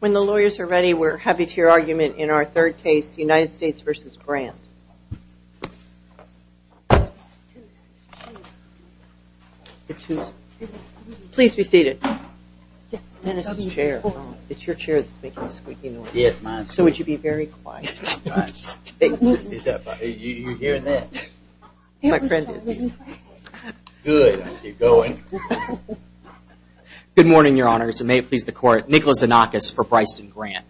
When the lawyers are ready we're happy to your argument in our third case United States v. Grant. Please be seated, it's your chair that's making a squeaky noise so would you be very quiet. Good morning your honors and may it please the court, Nicholas Anakis for Briceton Grant.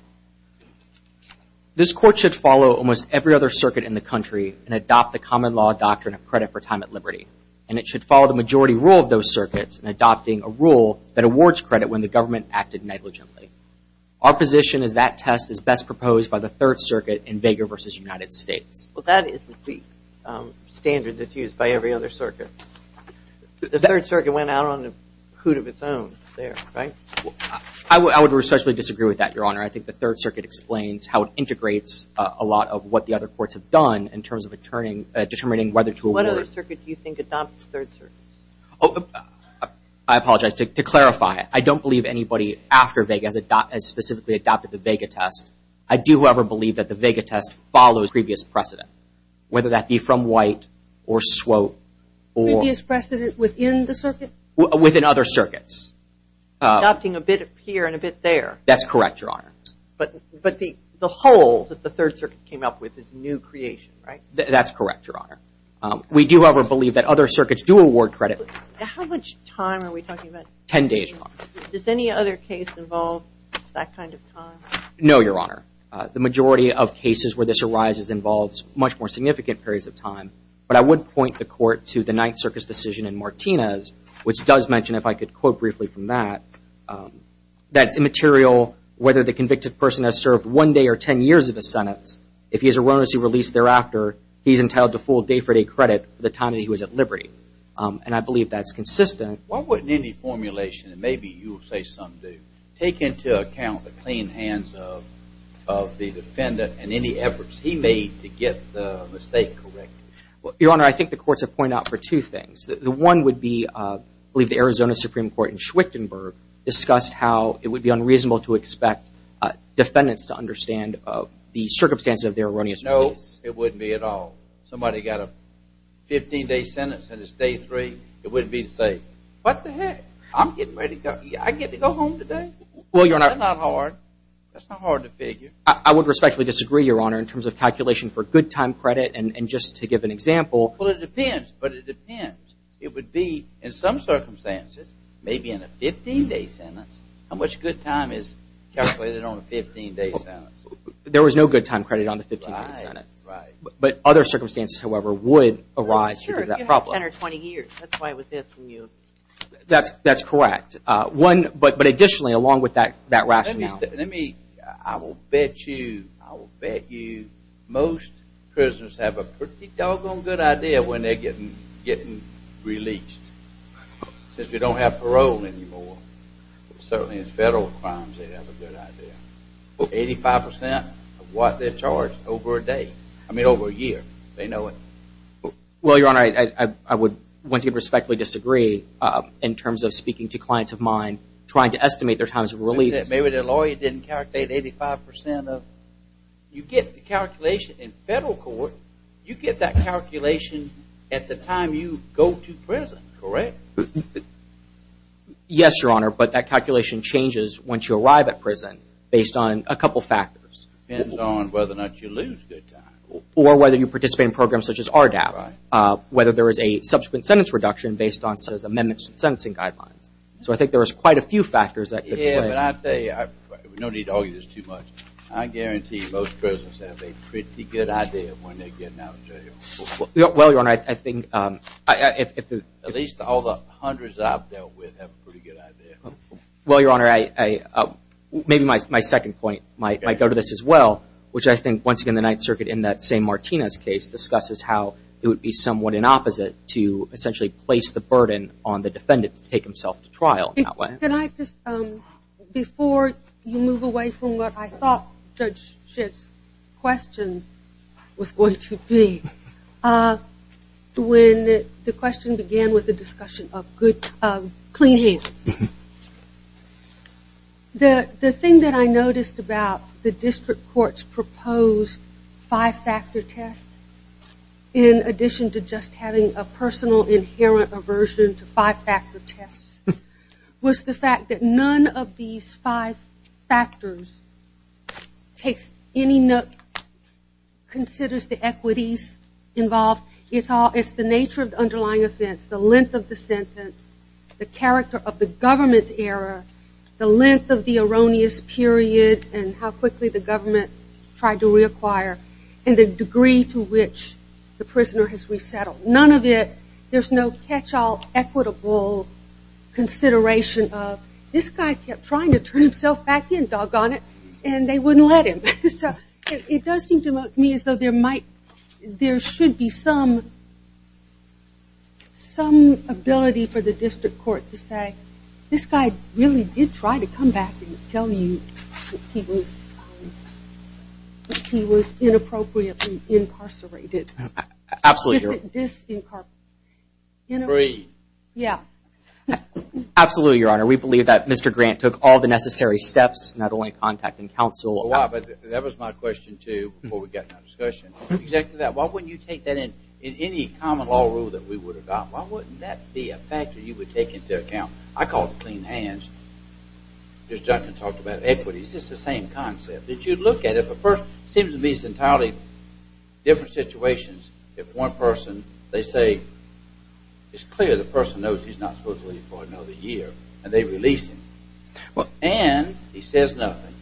This court should follow almost every other circuit in the country and adopt the common law doctrine of credit for time at liberty and it should follow the majority rule of those circuits in adopting a rule that awards credit when the government acted negligently. Our position is that test is best proposed by the third circuit in Vega v. United States. Well that is the standard that's used by every other circuit. The third circuit went out on a hoot of its own there, right? I would respectfully disagree with that your honor. I think the third circuit explains how it integrates a lot of what the other courts have done in terms of determining whether to award. What other circuit do you apologize to clarify it. I don't believe anybody after Vega has specifically adopted the Vega test. I do however believe that the Vega test follows previous precedent whether that be from White or Swope. Previous precedent within the circuit? Within other circuits. Adopting a bit here and a bit there. That's correct your honor. But the whole that the third circuit came up with is new creation, right? That's correct your honor. We do however believe that other circuits do award credit. How much time are we talking about? Ten days your honor. Does any other case involve that kind of time? No your honor. The majority of cases where this arises involves much more significant periods of time. But I would point the court to the Ninth Circus decision in Martinez which does mention if I could quote briefly from that, that's immaterial whether the convicted person has served one day or ten years of his sentence. If he is a witness he released thereafter, he is entitled to full day for day credit for the time that he was at liberty. And I believe that's consistent. Why wouldn't any formulation, and maybe you'll say some do, take into account the clean hands of the defendant and any efforts he made to get the mistake corrected? Your honor, I think the courts have pointed out for two things. The one would be, I believe the Arizona Supreme Court in Schwichtenberg discussed how it would be unreasonable to expect defendants to understand the circumstances of their erroneous ways. No, it wouldn't be at all. Somebody got a 15 day sentence and it's day three, it wouldn't be to say, what the heck? I'm getting ready to go. I get to go home today? Well your honor. That's not hard. That's not hard to figure. I would respectfully disagree your honor in terms of calculation for good time credit and just to give an example. Well it depends, but it depends. It would be in some circumstances, maybe in a 15 day sentence. How much good time is calculated on a 15 day sentence? There was no good time credit on the 15 day sentence. Right. But other circumstances however would arise because of that problem. Sure, if you had a sentence of 20 years, that's why it was this from you. That's correct. One, but additionally along with that rationally. Let me, I will bet you, I will bet you, most prisoners have a pretty doggone good idea when they don't have parole anymore. Certainly in federal crimes they have a good idea. 85% of what they're charged over a day, I mean over a year, they know it. Well your honor, I would once again respectfully disagree in terms of speaking to clients of mine trying to estimate their times of release. Maybe their lawyer didn't calculate 85% of, you get the calculation in federal court, you get that calculation at the time you go to prison, correct? Yes your honor, but that calculation changes once you arrive at prison based on a couple of factors. Depends on whether or not you lose good time. Or whether you participate in programs such as RDAP, whether there is a subsequent sentence reduction based on said amendments to the sentencing guidelines. So I think there is quite a few factors that could play. Yeah, but I tell you, no need to argue this too much, I guarantee most prisoners have a pretty good idea when they're getting out of jail. Well your honor, I think, at least all the hundreds I've dealt with have a pretty good idea. Well your honor, maybe my second point might go to this as well, which I think once again the Ninth Circuit in that same Martinez case discusses how it would be somewhat an opposite to essentially place the burden on the defendant to take himself to trial in that way. Can I just, before you move away from what I thought Judge Schiff's question was going to be, when the question began with the discussion of clean hands, the thing that I noticed about the district court's proposed five-factor test, in addition to just having a personal, inherent aversion to five-factor tests, was the fact that none of these five factors takes any note, considers the equities involved, it's the nature of the underlying offense, the length of the sentence, the character of the government error, the length of the erroneous period and how quickly the government tried to reacquire, and the degree to which the prisoner has resettled. None of it, there's no catch-all equitable consideration of, this guy kept trying to turn himself back in, doggone it, and they wouldn't let him. It does seem to me as though there should be some ability for the district court to say, this guy really did try to come back and tell you that he was inappropriately incarcerated. Absolutely, Your Honor. We believe that Mr. Grant took all the necessary steps, not only contacting counsel. That was my question too, before we got into discussion. Why wouldn't you take that in any common law rule that we would have gotten? Why wouldn't that be a factor you would take into account? I call it clean hands. Judge Duncan talked about equities, it's the same concept. If you look at it, it seems to me it's entirely different situations if one person, they say, it's clear the person knows he's not supposed to be here for another year, and they release him. And he says nothing.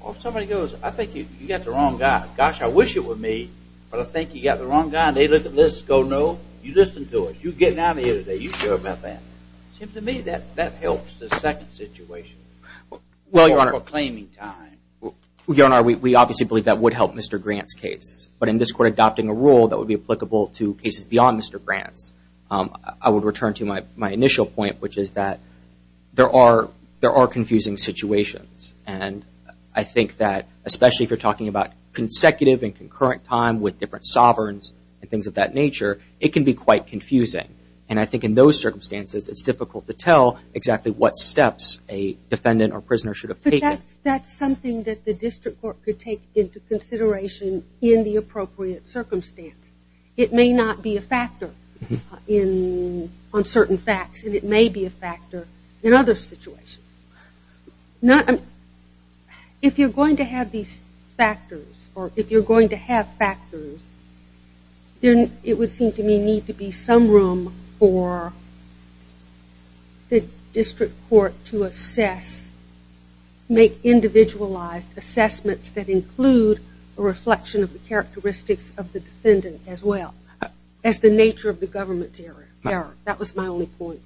Or if somebody goes, I think you got the wrong guy. Gosh, I wish it were me, but I think you got the wrong guy, and they look at this and go, no, you listened to us, you're getting out of here today, you care about that. It seems to me that helps the second situation. Well, Your Honor, we obviously believe that would help Mr. Grant's case. But in this court, adopting a rule that would be applicable to cases beyond Mr. Grant's, I would return to my initial point, which is that there are confusing situations. And I think that, especially if you're talking about consecutive and concurrent time with different sovereigns and things of that nature, it can be quite confusing. And I think in those circumstances, it's difficult to tell exactly what steps a defendant or prisoner should have taken. That's something that the district court could take into consideration in the appropriate circumstance. It may not be a factor on certain facts, and it may be a factor in other situations. If you're going to have these factors, or if you're going to have factors, then it would seem to me need to be some room for the district court to assess, make individualized assessments that include a reflection of the characteristics of the defendant as well, as the nature of the government's error. That was my only point.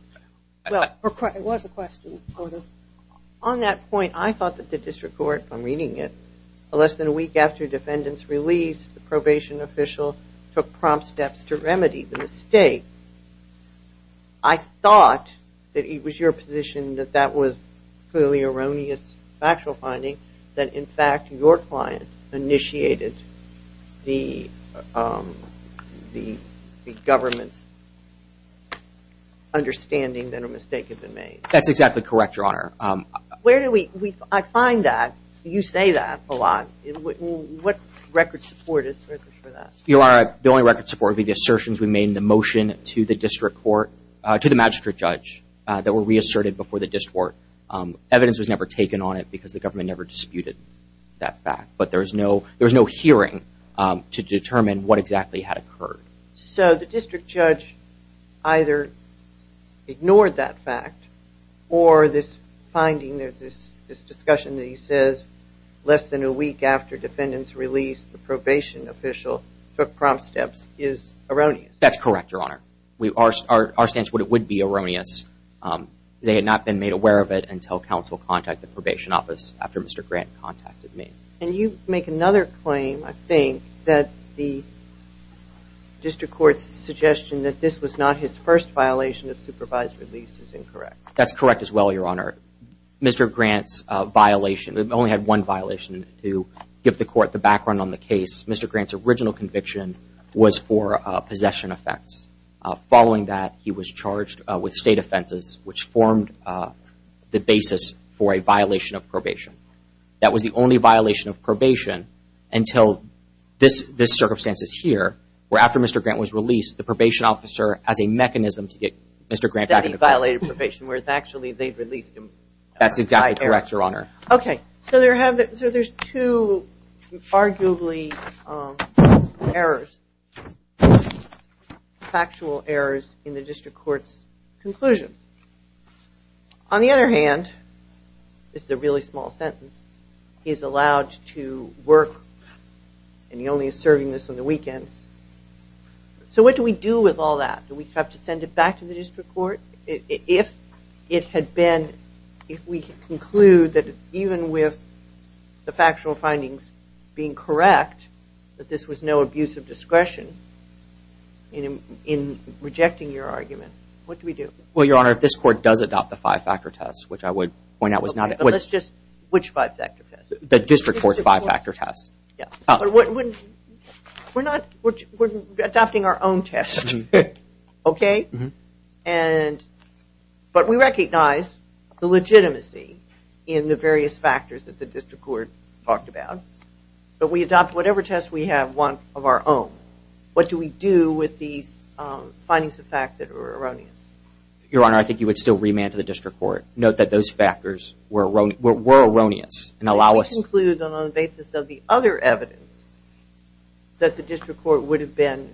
Well, it was a question, Your Honor. On that point, I thought that the district court, I'm reading it, less than a week after the remedy, the mistake, I thought that it was your position that that was clearly erroneous factual finding, that in fact your client initiated the government's understanding that a mistake had been made. That's exactly correct, Your Honor. Where do we, I find that, you say that a lot. What record support is there for that? Your Honor, the only record support would be the assertions we made in the motion to the district court, to the magistrate judge, that were reasserted before the district court. Evidence was never taken on it because the government never disputed that fact. But there was no hearing to determine what exactly had occurred. So the district judge either ignored that fact, or this finding, this discussion that was less than a week after defendant's release, the probation official took prompt steps, is erroneous. That's correct, Your Honor. Our stance would be erroneous. They had not been made aware of it until counsel contacted the probation office after Mr. Grant contacted me. And you make another claim, I think, that the district court's suggestion that this was not his first violation of supervised release is incorrect. That's correct as well, Your Honor. Mr. Grant's violation, he only had one violation. To give the court the background on the case, Mr. Grant's original conviction was for possession offense. Following that, he was charged with state offenses, which formed the basis for a violation of probation. That was the only violation of probation until this circumstance is here, where after Mr. Grant was released, the probation officer, as a mechanism to get Mr. Grant back in the case. He violated probation, whereas actually they'd released him by error. That's exactly correct, Your Honor. Okay. So there's two arguably errors, factual errors in the district court's conclusion. On the other hand, this is a really small sentence, he's allowed to work and he only is serving this on the weekends. So what do we do with all that? Do we have to send it back to the district court? If it had been, if we could conclude that even with the factual findings being correct, that this was no abuse of discretion in rejecting your argument, what do we do? Well, Your Honor, if this court does adopt the five-factor test, which I would point out was not... Okay, but let's just, which five-factor test? The district court's five-factor test. We're not, we're adopting our own test, okay? And, but we recognize the legitimacy in the various factors that the district court talked about, but we adopt whatever test we have want of our own. What do we do with these findings of fact that are erroneous? Your Honor, I think you would still remand to the district court. Note that those factors were erroneous and allow us... Any other evidence that the district court would have been,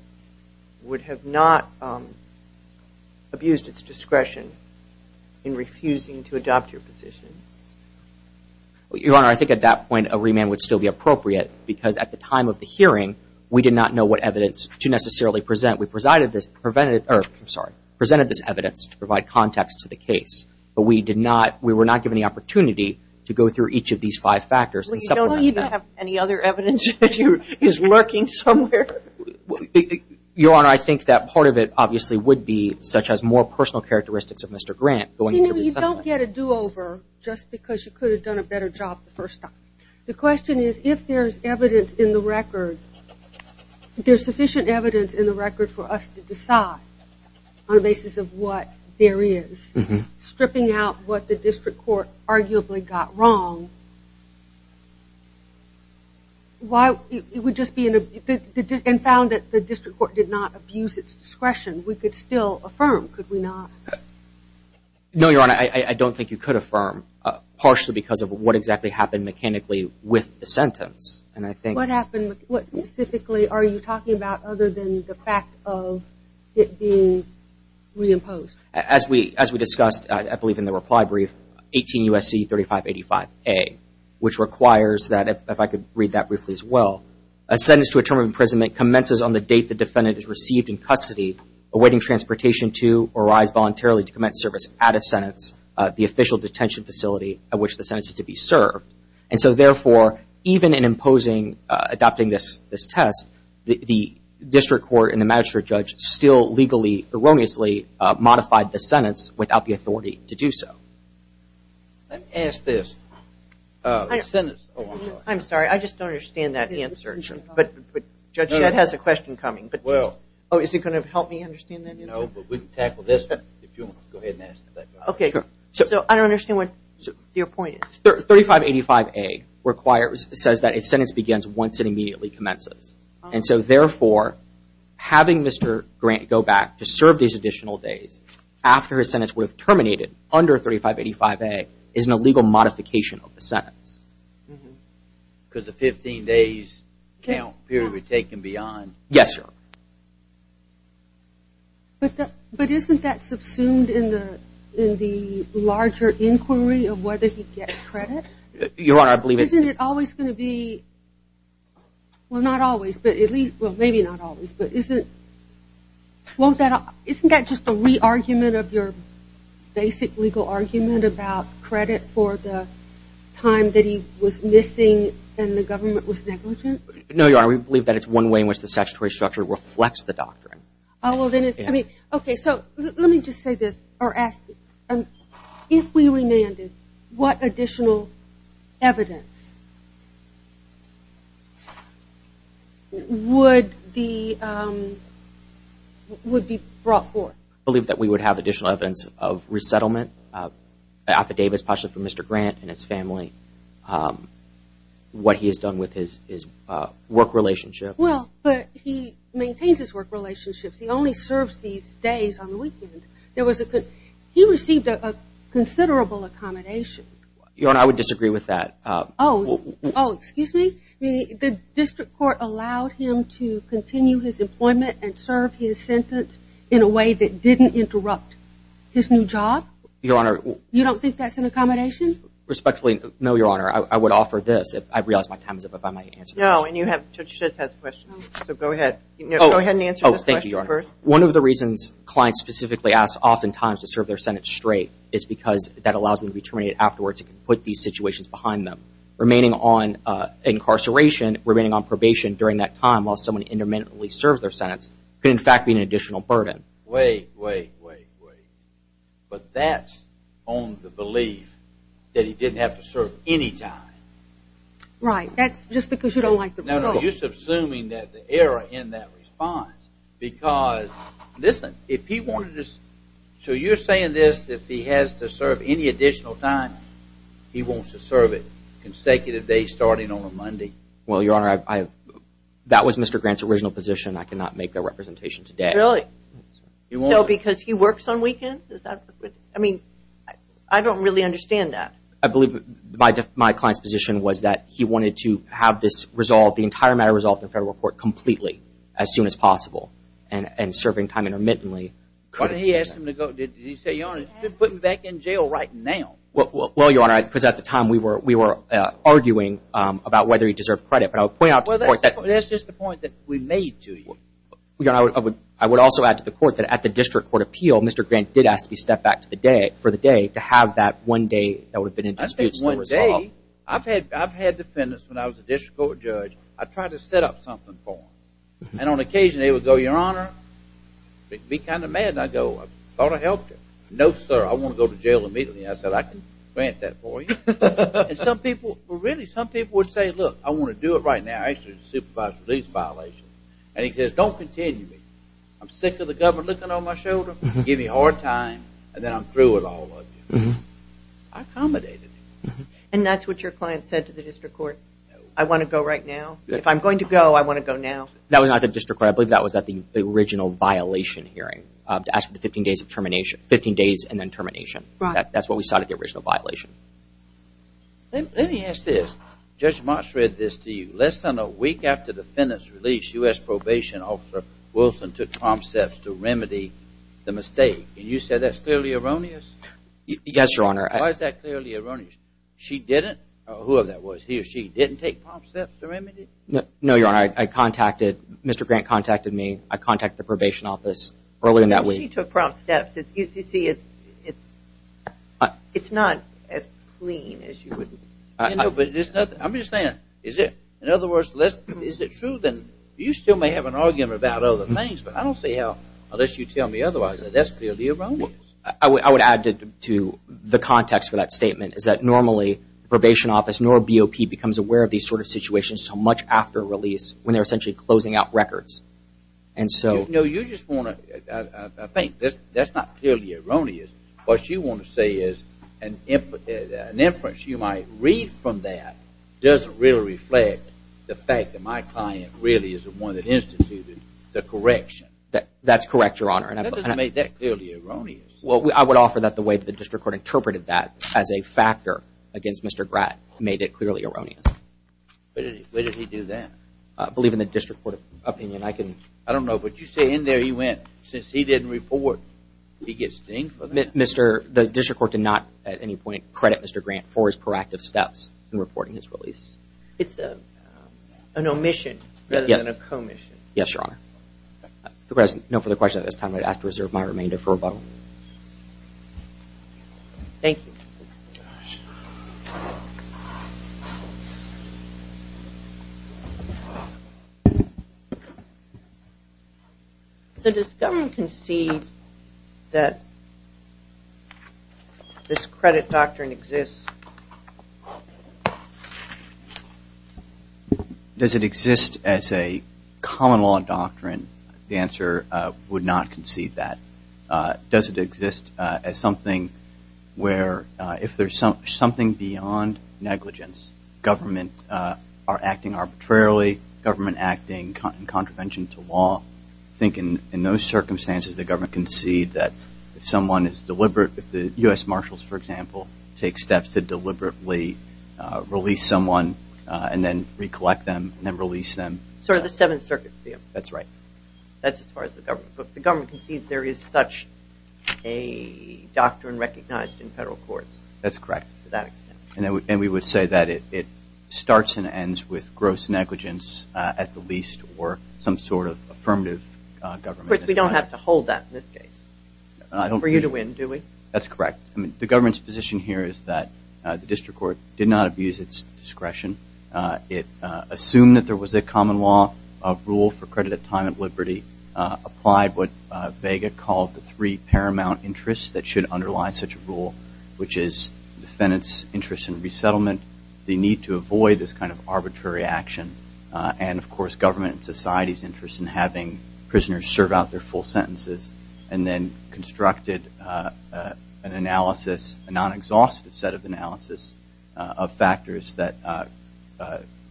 would have not abused its discretion in refusing to adopt your position? Your Honor, I think at that point, a remand would still be appropriate because at the time of the hearing, we did not know what evidence to necessarily present. We presided this, prevented, or I'm sorry, presented this evidence to provide context to the case, but we did not, we were not given the opportunity to go through each of these five factors and supplement them. I don't even have any other evidence that you're, is lurking somewhere. Your Honor, I think that part of it obviously would be such as more personal characteristics of Mr. Grant going into the settlement. You don't get a do-over just because you could have done a better job the first time. The question is, if there's evidence in the record, there's sufficient evidence in the record for us to decide on the basis of what there is. Stripping out what the district court arguably got wrong, why, it would just be an, and found that the district court did not abuse its discretion, we could still affirm, could we not? No, Your Honor, I don't think you could affirm, partially because of what exactly happened mechanically with the sentence, and I think. What happened, what specifically are you talking about other than the fact of it being reimposed? As we discussed, I believe in the reply brief, 18 U.S.C. 3585A, which requires that, if I could read that briefly as well, a sentence to a term of imprisonment commences on the date the defendant is received in custody, awaiting transportation to or arrives voluntarily to commence service at a sentence, the official detention facility at which the sentence is to be served. And so therefore, even in imposing, adopting this test, the district court and the magistrate judge still legally, erroneously, modified the sentence without the authority to do so. Let me ask this, the sentence. I'm sorry, I just don't understand that answer, but Judge, that has a question coming, but just, oh, is it going to help me understand that answer? No, but we can tackle this if you want to go ahead and ask that question. Okay, so I don't understand what your point is. 3585A requires, says that a sentence begins once it immediately commences, and so therefore, having Mr. Grant go back to serve these additional days after his sentence would have terminated under 3585A is an illegal modification of the sentence. Could the 15 days count period be taken beyond? Yes, sir. But isn't that subsumed in the larger inquiry of whether he gets credit? Your Honor, I believe it's... Well, not always, but at least, well, maybe not always, but isn't, won't that, isn't that just a re-argument of your basic legal argument about credit for the time that he was missing and the government was negligent? No, Your Honor, we believe that it's one way in which the statutory structure reflects the doctrine. Oh, well, then it's, I mean, okay, so let me just say this, or ask, if we remanded, what additional evidence would be, would be brought forth? I believe that we would have additional evidence of resettlement, affidavits, partially from Mr. Grant and his family, what he has done with his work relationship. Well, but he maintains his work relationships. He only serves these days on the weekend. He received a considerable accommodation. Your Honor, I would disagree with that. Oh, excuse me? The district court allowed him to continue his employment and serve his sentence in a way that didn't interrupt his new job? Your Honor... You don't think that's an accommodation? Respectfully, no, Your Honor, I would offer this, if I realize my time is up, if I might answer the question. No, and you have, Judge Schitt has a question, so go ahead. Go ahead and answer this question first. One of the reasons clients specifically ask oftentimes to serve their sentence straight is because that allows them to be terminated afterwards and put these situations behind them. Remaining on incarceration, remaining on probation during that time while someone intermittently serves their sentence, could in fact be an additional burden. Wait, wait, wait, wait. But that's on the belief that he didn't have to serve any time. Right, that's just because you don't like the result. So you're assuming that the error in that response because, listen, if he wanted to serve, so you're saying this, if he has to serve any additional time, he wants to serve it consecutive days starting on a Monday. Well, Your Honor, that was Mr. Grant's original position. I cannot make that representation today. Really? So because he works on weekends? I mean, I don't really understand that. I believe my client's position was that he wanted to have this resolved the entire matter resolved in federal court completely as soon as possible and serving time intermittently. Why didn't he ask him to go? Did he say, Your Honor, put him back in jail right now? Well, Your Honor, because at the time we were arguing about whether he deserved credit. But I would point out to the court that— Well, that's just the point that we made to you. I would also add to the court that at the district court appeal, Mr. Grant did ask to be stepped back for the day to have that one day that would have been in dispute still resolved. I've had defendants when I was a district court judge. I tried to set up something for them. And on occasion they would go, Your Honor, be kind of mad. And I'd go, I thought I helped you. No, sir, I want to go to jail immediately. I said, I can grant that for you. And some people, really, some people would say, look, I want to do it right now. Actually, it's a supervised release violation. And he says, don't continue me. I'm sick of the government looking on my shoulder, giving me a hard time, and then I'm through with all of you. I accommodated him. And that's what your client said to the district court? No. I want to go right now? If I'm going to go, I want to go now. That was not at the district court. I believe that was at the original violation hearing, to ask for the 15 days and then termination. Right. That's what we sought at the original violation. Let me ask this. Judge Marsh read this to you. Less than a week after the defendant's release, U.S. Probation Officer Wilson took prompts steps to remedy the mistake. And you said that's clearly erroneous? Yes, Your Honor. Why is that clearly erroneous? She didn't? Whoever that was, he or she didn't take prompts steps to remedy it? No, Your Honor. I contacted Mr. Grant contacted me. I contacted the probation office earlier in that week. She took prompts steps. You see, it's not as clean as you would think. I'm just saying, in other words, is it true? You still may have an argument about other things, but I don't see how, unless you tell me otherwise, that that's clearly erroneous. I would add to the context for that statement is that normally probation office nor BOP becomes aware of these sort of situations so much after release when they're essentially closing out records. And so you just want to I think that's not clearly erroneous. What you want to say is an inference you might read from that doesn't really reflect the fact that my client really is the one that instituted the correction. That's correct, Your Honor. That doesn't make that clearly erroneous. Well, I would offer that the way the district court interpreted that as a factor against Mr. Grant made it clearly erroneous. Where did he do that? I believe in the district court opinion. I don't know, but you say in there he went since he didn't report. He gets sting for that? The district court did not at any point credit Mr. Grant for his proactive steps in reporting his release. It's an omission rather than a commission. Yes, Your Honor. No further questions at this time. I'd ask to reserve my remainder for rebuttal. Thank you. So does the government concede that this credit doctrine exists? Does it exist as a common law doctrine? The answer, would not concede that. Does it exist as something where if there's something beyond negligence, government are acting arbitrarily, government acting in contravention to law. I think in those circumstances the government concede that if someone is deliberate, if the U.S. Marshals, for example, take steps to deliberately release someone and then recollect them and then release them. Sir, the Seventh Circuit. That's right. That's as far as the government. But the government concedes there is such a doctrine recognized in federal courts. That's correct. To that extent. And we would say that it starts and ends with gross negligence at the least or some sort of affirmative government. Of course, we don't have to hold that in this case. For you to win, do we? That's correct. The government's position here is that the district court did not abuse its discretion. It assumed that there was a common law, a rule for credit at time of liberty, applied what Vega called the three paramount interests that should underlie such a rule, which is defendant's interest in resettlement, the need to avoid this kind of arbitrary action, and, of course, government and society's interest in having prisoners serve out their full sentences and then constructed an analysis, a non-exhaustive set of analysis of factors that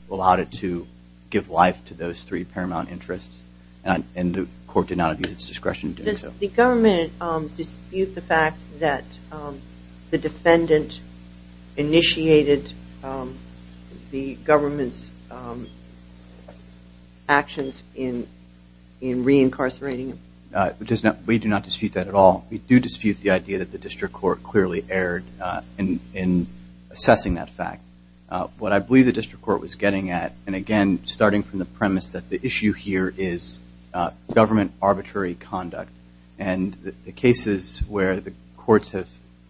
allowed it to give life to those three paramount interests. And the court did not abuse its discretion in doing so. Does the government dispute the fact that the defendant initiated the government's actions in reincarcerating him? We do not dispute that at all. We do dispute the idea that the district court clearly erred in assessing that fact. What I believe the district court was getting at, and, again, starting from the premise that the issue here is government arbitrary conduct and the cases where the courts have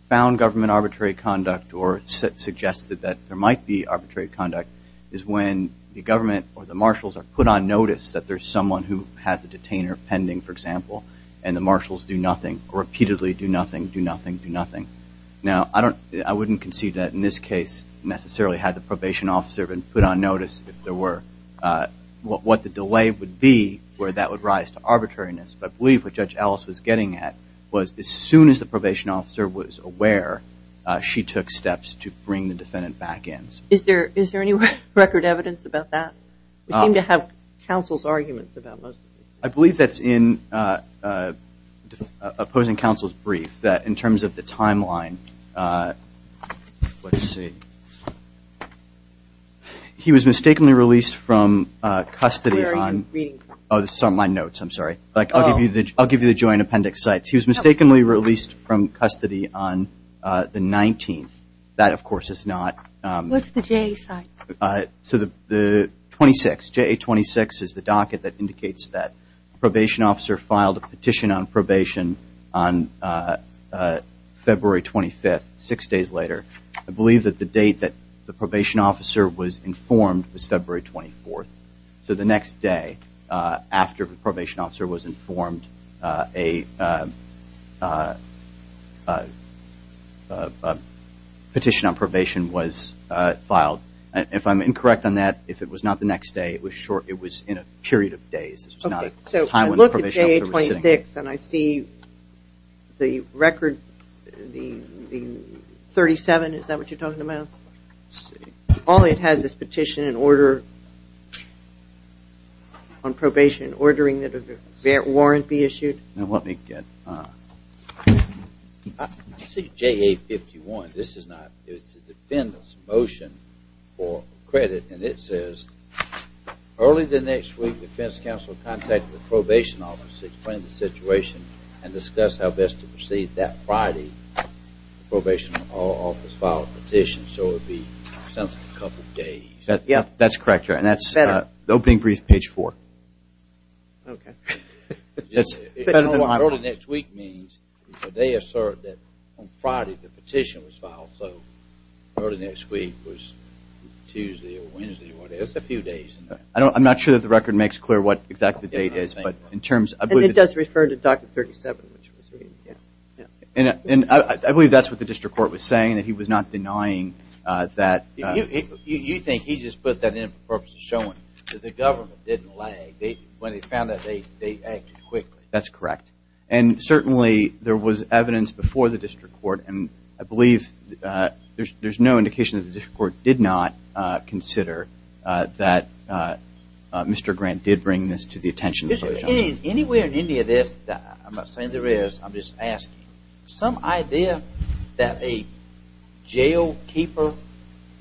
found government arbitrary conduct or suggested that there might be arbitrary conduct is when the government or the marshals are put on notice that there's someone who has a detainer pending, for example, and the marshals do nothing, repeatedly do nothing, do nothing, do nothing. Now, I wouldn't concede that in this case necessarily had the probation officer been put on notice if there were what the delay would be where that would rise to arbitrariness. But I believe what Judge Ellis was getting at was as soon as the probation officer was aware, she took steps to bring the defendant back in. Is there any record evidence about that? We seem to have counsel's arguments about most of it. I believe that's in opposing counsel's brief that in terms of the timeline, let's see. He was mistakenly released from custody on my notes. I'm sorry. I'll give you the joint appendix sites. He was mistakenly released from custody on the 19th. That, of course, is not. What's the J site? So the 26, J26 is the docket that indicates that probation officer filed a petition on probation on February 25th, six days later. I believe that the date that the probation officer was informed was February 24th. So the next day after the probation officer was informed, a petition on probation was filed. If I'm incorrect on that, if it was not the next day, it was in a period of days. So look at J26 and I see the record, the 37, is that what you're talking about? Let's see. Only it has this petition in order on probation ordering that a warrant be issued. Now, let me get. I see JA51. This is not. It's the defendant's motion for credit and it says early the next week, defense counsel contacted the probation office to explain the situation and discuss how best to proceed that Friday. Probation office filed a petition, so it would be a couple of days. That's correct, and that's the opening brief, page four. Okay. Early next week means they assert that on Friday the petition was filed, so early next week was Tuesday or Wednesday or whatever. It's a few days. I'm not sure that the record makes clear what exactly the date is, but in terms of. It does refer to document 37. And I believe that's what the district court was saying, that he was not denying that. You think he just put that in for the purpose of showing that the government didn't lag. When they found that, they acted quickly. That's correct, and certainly there was evidence before the district court, and I believe there's no indication that the district court did not consider that Mr. Grant did bring this to the attention. Anywhere in any of this, I'm not saying there is, I'm just asking. Some idea that a jailkeeper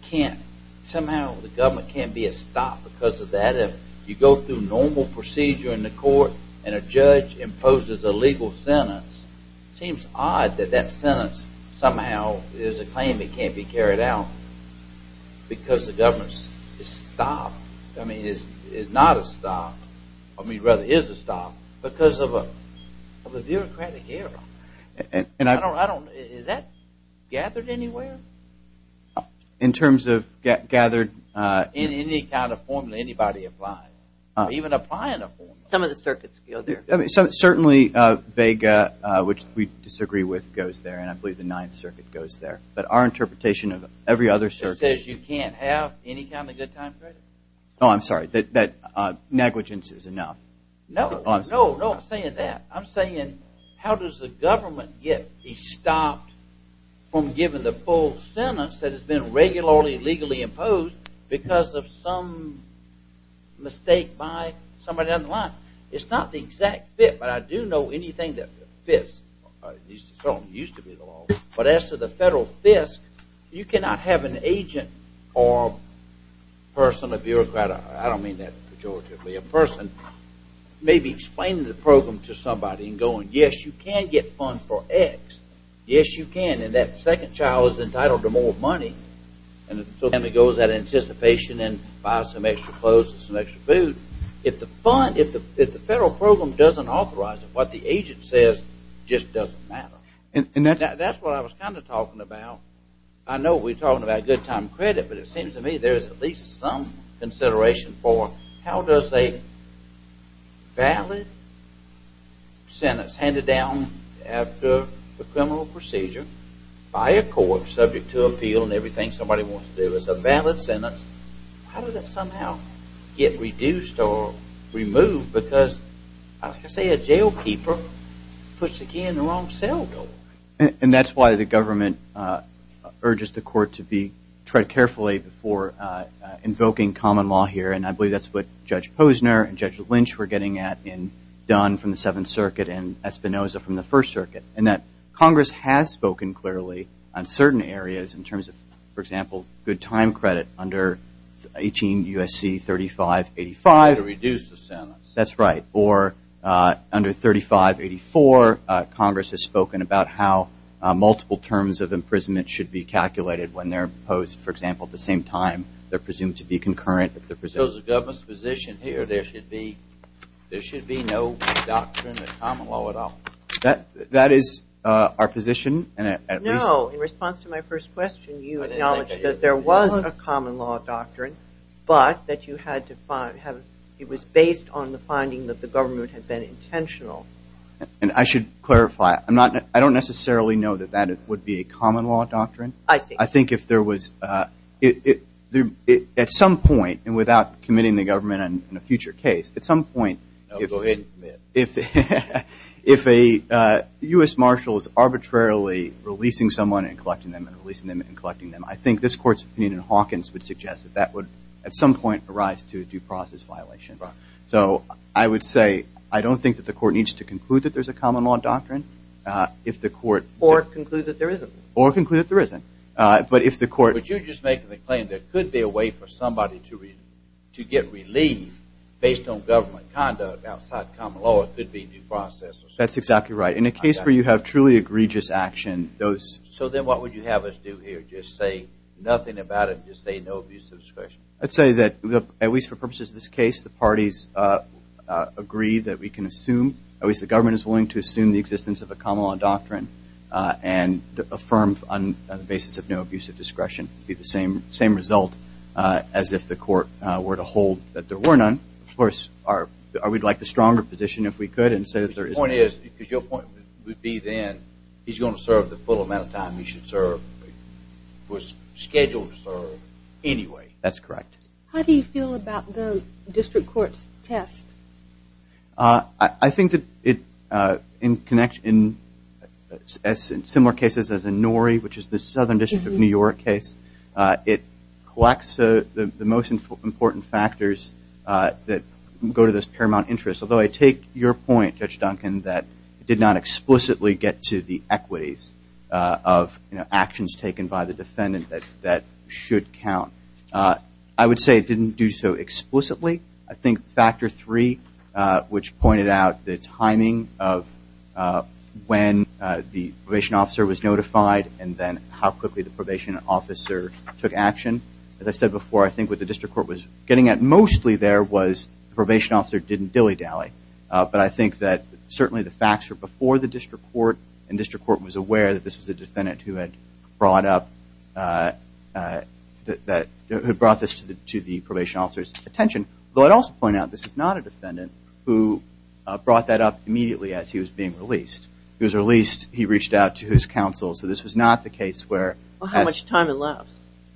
can't, somehow the government can't be stopped because of that. If you go through normal procedure in the court and a judge imposes a legal sentence, it seems odd that that sentence somehow is a claim that can't be carried out because the government is stopped. I mean, is not a stop, I mean, rather is a stop because of a bureaucratic error. Is that gathered anywhere? In terms of gathered? In any kind of form that anybody applies. Even applying a form. Some of the circuits go there. Certainly, Vega, which we disagree with, goes there, and I believe the Ninth Circuit goes there. But our interpretation of every other circuit. The Ninth Circuit says you can't have any kind of good time credit? Oh, I'm sorry, that negligence is enough. No, no, no, I'm not saying that. I'm saying how does the government get stopped from giving the full sentence that has been regularly, legally imposed because of some mistake by somebody down the line. It's not the exact fit, but I do know anything that fits. It certainly used to be the law. But as to the federal FISC, you cannot have an agent or person, a bureaucrat, I don't mean that pejoratively, a person maybe explaining the program to somebody and going, yes, you can get funds for X. Yes, you can. And that second child is entitled to more money. And so the family goes out of anticipation and buys some extra clothes and some extra food. If the federal program doesn't authorize it, what the agent says just doesn't matter. And that's what I was kind of talking about. I know we're talking about good time credit, but it seems to me there is at least some consideration for how does a valid sentence handed down after the criminal procedure by a court subject to appeal and everything somebody wants to do, how does that somehow get reduced or removed? Because, like I say, a jailkeeper puts the key in the wrong cell door. And that's why the government urges the court to tread carefully before invoking common law here. And I believe that's what Judge Posner and Judge Lynch were getting at in Dunn from the Seventh Circuit and Espinoza from the First Circuit, and that Congress has spoken clearly on certain areas in terms of, for example, good time credit under 18 U.S.C. 3585. To reduce the sentence. That's right. Or under 3584, Congress has spoken about how multiple terms of imprisonment should be calculated when they're imposed. For example, at the same time, they're presumed to be concurrent. So the government's position here, there should be no doctrine of common law at all? That is our position. No. In response to my first question, you acknowledged that there was a common law doctrine, but that it was based on the finding that the government had been intentional. And I should clarify, I don't necessarily know that that would be a common law doctrine. I see. If there was, at some point, and without committing the government in a future case, at some point, if a U.S. marshal is arbitrarily releasing someone and collecting them and releasing them and collecting them, I think this Court's opinion in Hawkins would suggest that that would, at some point, arise to a due process violation. So I would say I don't think that the Court needs to conclude that there's a common law doctrine. Or conclude that there isn't. Or conclude that there isn't. But you're just making the claim there could be a way for somebody to get relief based on government conduct outside the common law. It could be due process. That's exactly right. In a case where you have truly egregious action, those... So then what would you have us do here? Just say nothing about it? Just say no abuse of discretion? I'd say that, at least for purposes of this case, the parties agree that we can assume, at least the government is willing to assume the existence of a common law doctrine and affirm on the basis of no abuse of discretion. It would be the same result as if the Court were to hold that there were none. Of course, we'd like the stronger position if we could and say that there isn't. The point is, because your point would be then, he's going to serve the full amount of time he should serve, was scheduled to serve, anyway. That's correct. How do you feel about the district court's test? I think that in similar cases as in Norrie, which is the southern district of New York case, it collects the most important factors that go to this paramount interest. Although I take your point, Judge Duncan, that it did not explicitly get to the equities of actions taken by the defendant that should count. I would say it didn't do so explicitly. I think factor three, which pointed out the timing of when the probation officer was notified and then how quickly the probation officer took action. As I said before, I think what the district court was getting at, mostly there was the probation officer didn't dilly-dally. But I think that certainly the facts were before the district court, and district court was aware that this was a defendant who had brought this to the probation officer's attention. Although I'd also point out this is not a defendant who brought that up immediately as he was being released. He was released. He reached out to his counsel. So this was not the case where that's- Well, how much time it left?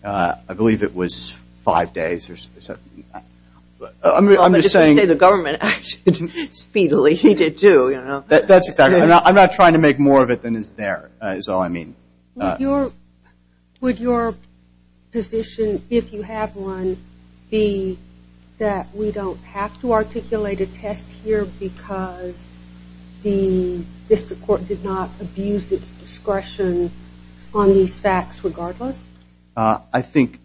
I believe it was five days or something. I'm just saying- Well, but if you say the government acted speedily, he did too, you know. That's exactly right. I'm not trying to make more of it than is there, is all I mean. Would your position, if you have one, be that we don't have to articulate a test here because the district court did not abuse its discretion on these facts regardless? I think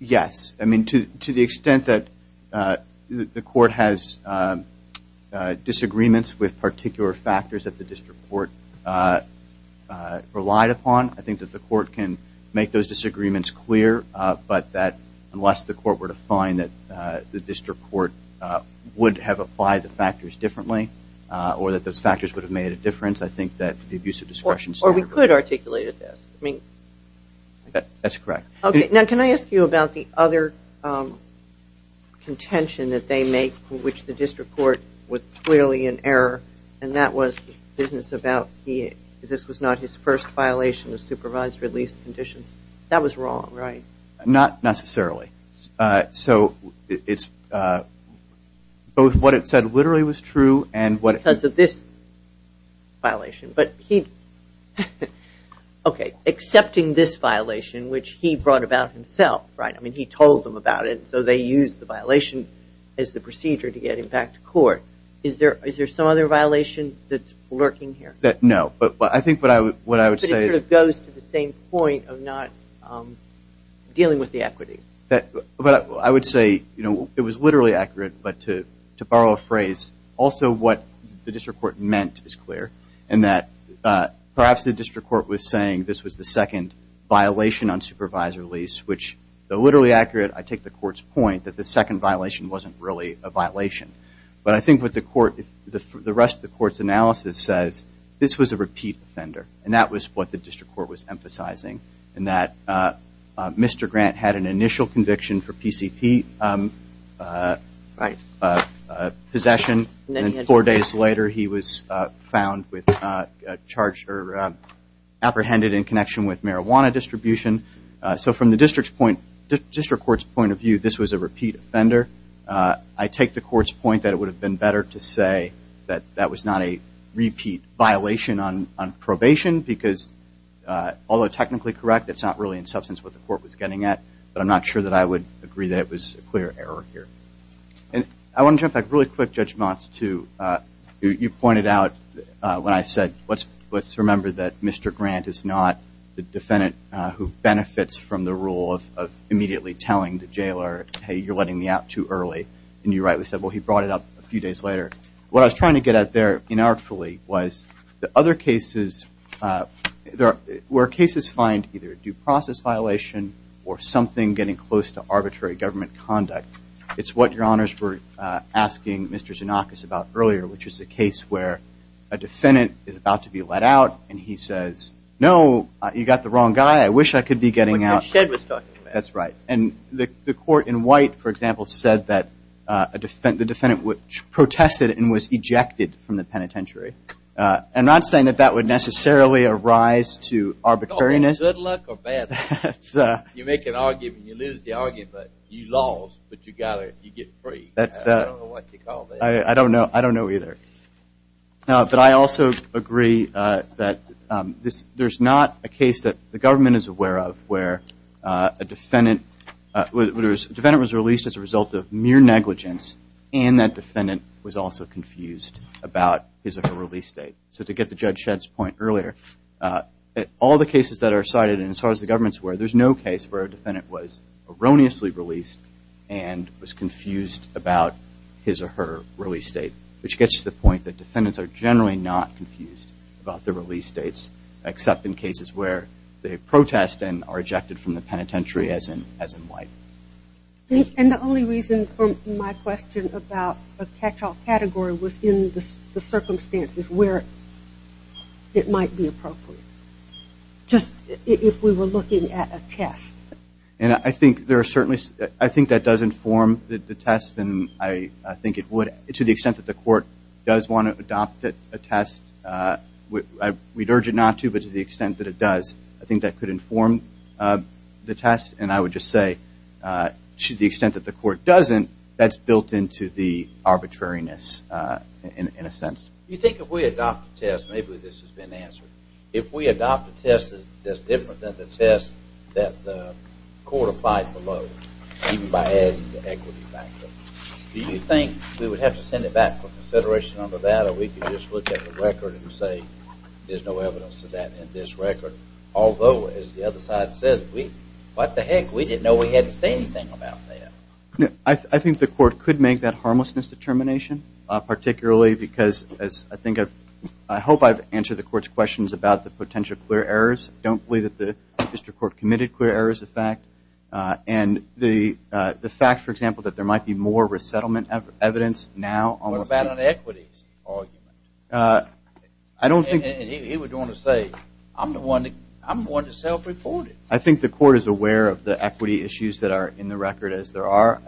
yes. I mean, to the extent that the court has disagreements with particular factors that the district court relied upon, I think that the court can make those disagreements clear, but that unless the court were to find that the district court would have applied the factors differently or that those factors would have made a difference, I think that the abuse of discretion- Or we could articulate a test. That's correct. Okay. Now, can I ask you about the other contention that they make, which the district court was clearly in error, and that was business about this was not his first violation of supervised release conditions. That was wrong, right? Not necessarily. So it's both what it said literally was true and what- Because of this violation. Okay. Accepting this violation, which he brought about himself, right? I mean, he told them about it, so they used the violation as the procedure to get him back to court. Is there some other violation that's lurking here? No. But I think what I would say is- But it sort of goes to the same point of not dealing with the equities. I would say it was literally accurate, but to borrow a phrase, also what the district court meant is clear, and that perhaps the district court was saying this was the second violation on supervised release, which though literally accurate, I take the court's point that the second violation wasn't really a violation. But I think what the rest of the court's analysis says, this was a repeat offender, and that Mr. Grant had an initial conviction for PCP possession, and then four days later he was found with a charge or apprehended in connection with marijuana distribution. So from the district court's point of view, this was a repeat offender. I take the court's point that it would have been better to say that that was not a repeat violation on probation, because although technically correct, it's not really in substance what the court was getting at, but I'm not sure that I would agree that it was a clear error here. And I want to jump back really quick, Judge Motz, to you pointed out when I said, let's remember that Mr. Grant is not the defendant who benefits from the rule of immediately telling the jailer, hey, you're letting me out too early. And you rightly said, well, he brought it up a few days later. What I was trying to get at there inartfully was the other cases, where cases find either a due process violation or something getting close to arbitrary government conduct, it's what Your Honors were asking Mr. Xenakis about earlier, which is a case where a defendant is about to be let out, and he says, no, you got the wrong guy. I wish I could be getting out. Like what Shedd was talking about. That's right. And the court in White, for example, said that the defendant protested and was ejected from the penitentiary. I'm not saying that that would necessarily arise to arbitrariness. Good luck or bad luck. You make an argument, you lose the argument, but you lost, but you got it, you get free. I don't know what you call that. I don't know either. But I also agree that there's not a case that the government is aware of where a defendant was released as a result of mere negligence, and that defendant was also confused about his or her release date. So to get to Judge Shedd's point earlier, all the cases that are cited, and as far as the government is aware, there's no case where a defendant was erroneously released and was confused about his or her release date, which gets to the point that defendants are generally not confused about their release dates, except in cases where they protest and are ejected from the penitentiary, as in White. And the only reason for my question about a catch-all category was in the circumstances where it might be appropriate, just if we were looking at a test. And I think there are certainly – I think that does inform the test, and I think it would to the extent that the court does want to adopt a test. We'd urge it not to, but to the extent that it does, I think that could inform the test. And I would just say, to the extent that the court doesn't, that's built into the arbitrariness, in a sense. You think if we adopt a test, maybe this has been answered. If we adopt a test that's different than the test that the court applied below, even by adding the equity factor, do you think we would have to send it back for consideration under that, or we could just look at the record and say there's no evidence of that in this record? Although, as the other side said, what the heck? We didn't know we had to say anything about that. I think the court could make that harmlessness determination, particularly because, as I think I've – I hope I've answered the court's questions about the potential clear errors. I don't believe that the district court committed clear errors, in fact. And the fact, for example, that there might be more resettlement evidence now. What about an equities argument? I don't think – And he would want to say, I'm the one that self-reported. I think the court is aware of the equity issues that are in the record, as there are.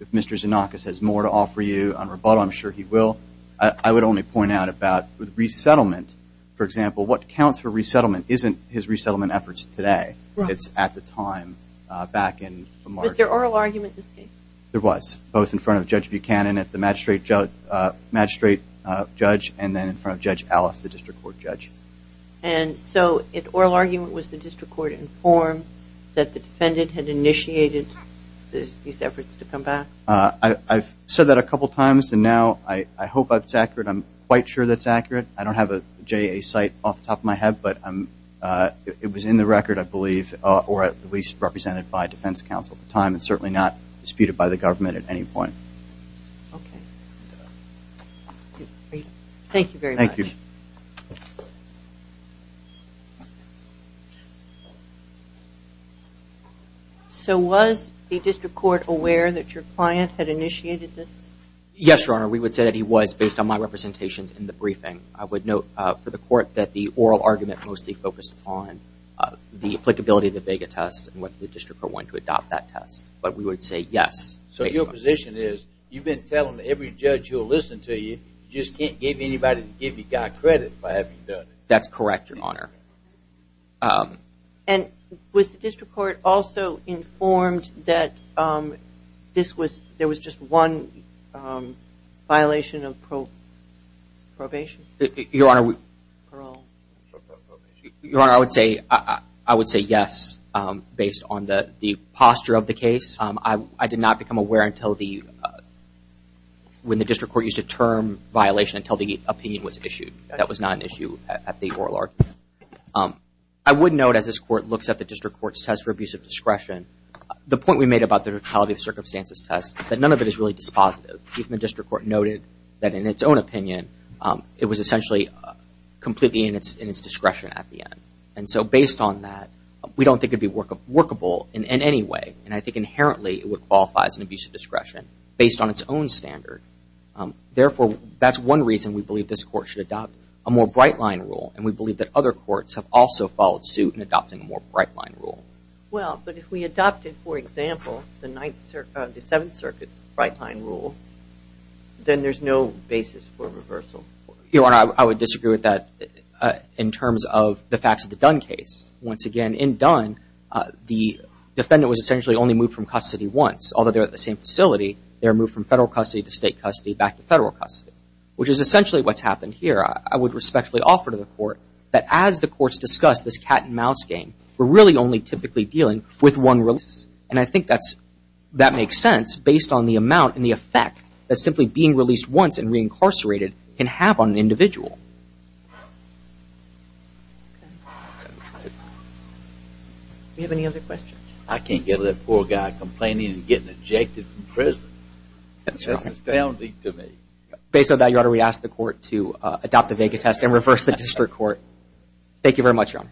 If Mr. Xenakis has more to offer you on rebuttal, I'm sure he will. I would only point out about the resettlement. For example, what counts for resettlement isn't his resettlement efforts today. It's at the time back in March. Was there oral argument in this case? There was, both in front of Judge Buchanan, the magistrate judge, and then in front of Judge Ellis, the district court judge. And so an oral argument was the district court informed that the defendant had initiated these efforts to come back? I've said that a couple times, and now I hope that's accurate. I'm quite sure that's accurate. I don't have a JA site off the top of my head, but it was in the record, I believe, or at least represented by defense counsel at the time, and certainly not disputed by the government at any point. Okay. Thank you very much. Thank you. So was the district court aware that your client had initiated this? Yes, Your Honor, we would say that he was, based on my representations in the briefing. I would note for the court that the oral argument mostly focused on the applicability of the Vega test and whether the district court wanted to adopt that test, but we would say yes. So your position is you've been telling every judge who will listen to you, you just can't get anybody to give you guy credit by having done it? That's correct, Your Honor. And was the district court also informed that there was just one violation of probation? Your Honor, I would say yes, based on the posture of the case. I did not become aware when the district court used the term violation until the opinion was issued. That was not an issue at the oral argument. I would note, as this court looks at the district court's test for abusive discretion, the point we made about the totality of circumstances test, that none of it is really dispositive. Even the district court noted that in its own opinion, it was essentially completely in its discretion at the end. And so based on that, we don't think it would be workable in any way. And I think inherently it would qualify as an abusive discretion based on its own standard. Therefore, that's one reason we believe this court should adopt a more bright-line rule, and we believe that other courts have also followed suit in adopting a more bright-line rule. Well, but if we adopted, for example, the Seventh Circuit's bright-line rule, then there's no basis for reversal. Your Honor, I would disagree with that in terms of the facts of the Dunn case. Once again, in Dunn, the defendant was essentially only moved from custody once. Although they were at the same facility, they were moved from federal custody to state custody back to federal custody, which is essentially what's happened here. I would respectfully offer to the court that as the courts discuss this cat-and-mouse game, we're really only typically dealing with one release. And I think that makes sense based on the amount and the effect that simply being released once and reincarcerated can have on an individual. Do you have any other questions? I can't get over that poor guy complaining and getting ejected from prison. That's just astounding to me. Based on that, Your Honor, we ask the court to adopt the Vega test and reverse the district court. Thank you very much, Your Honor.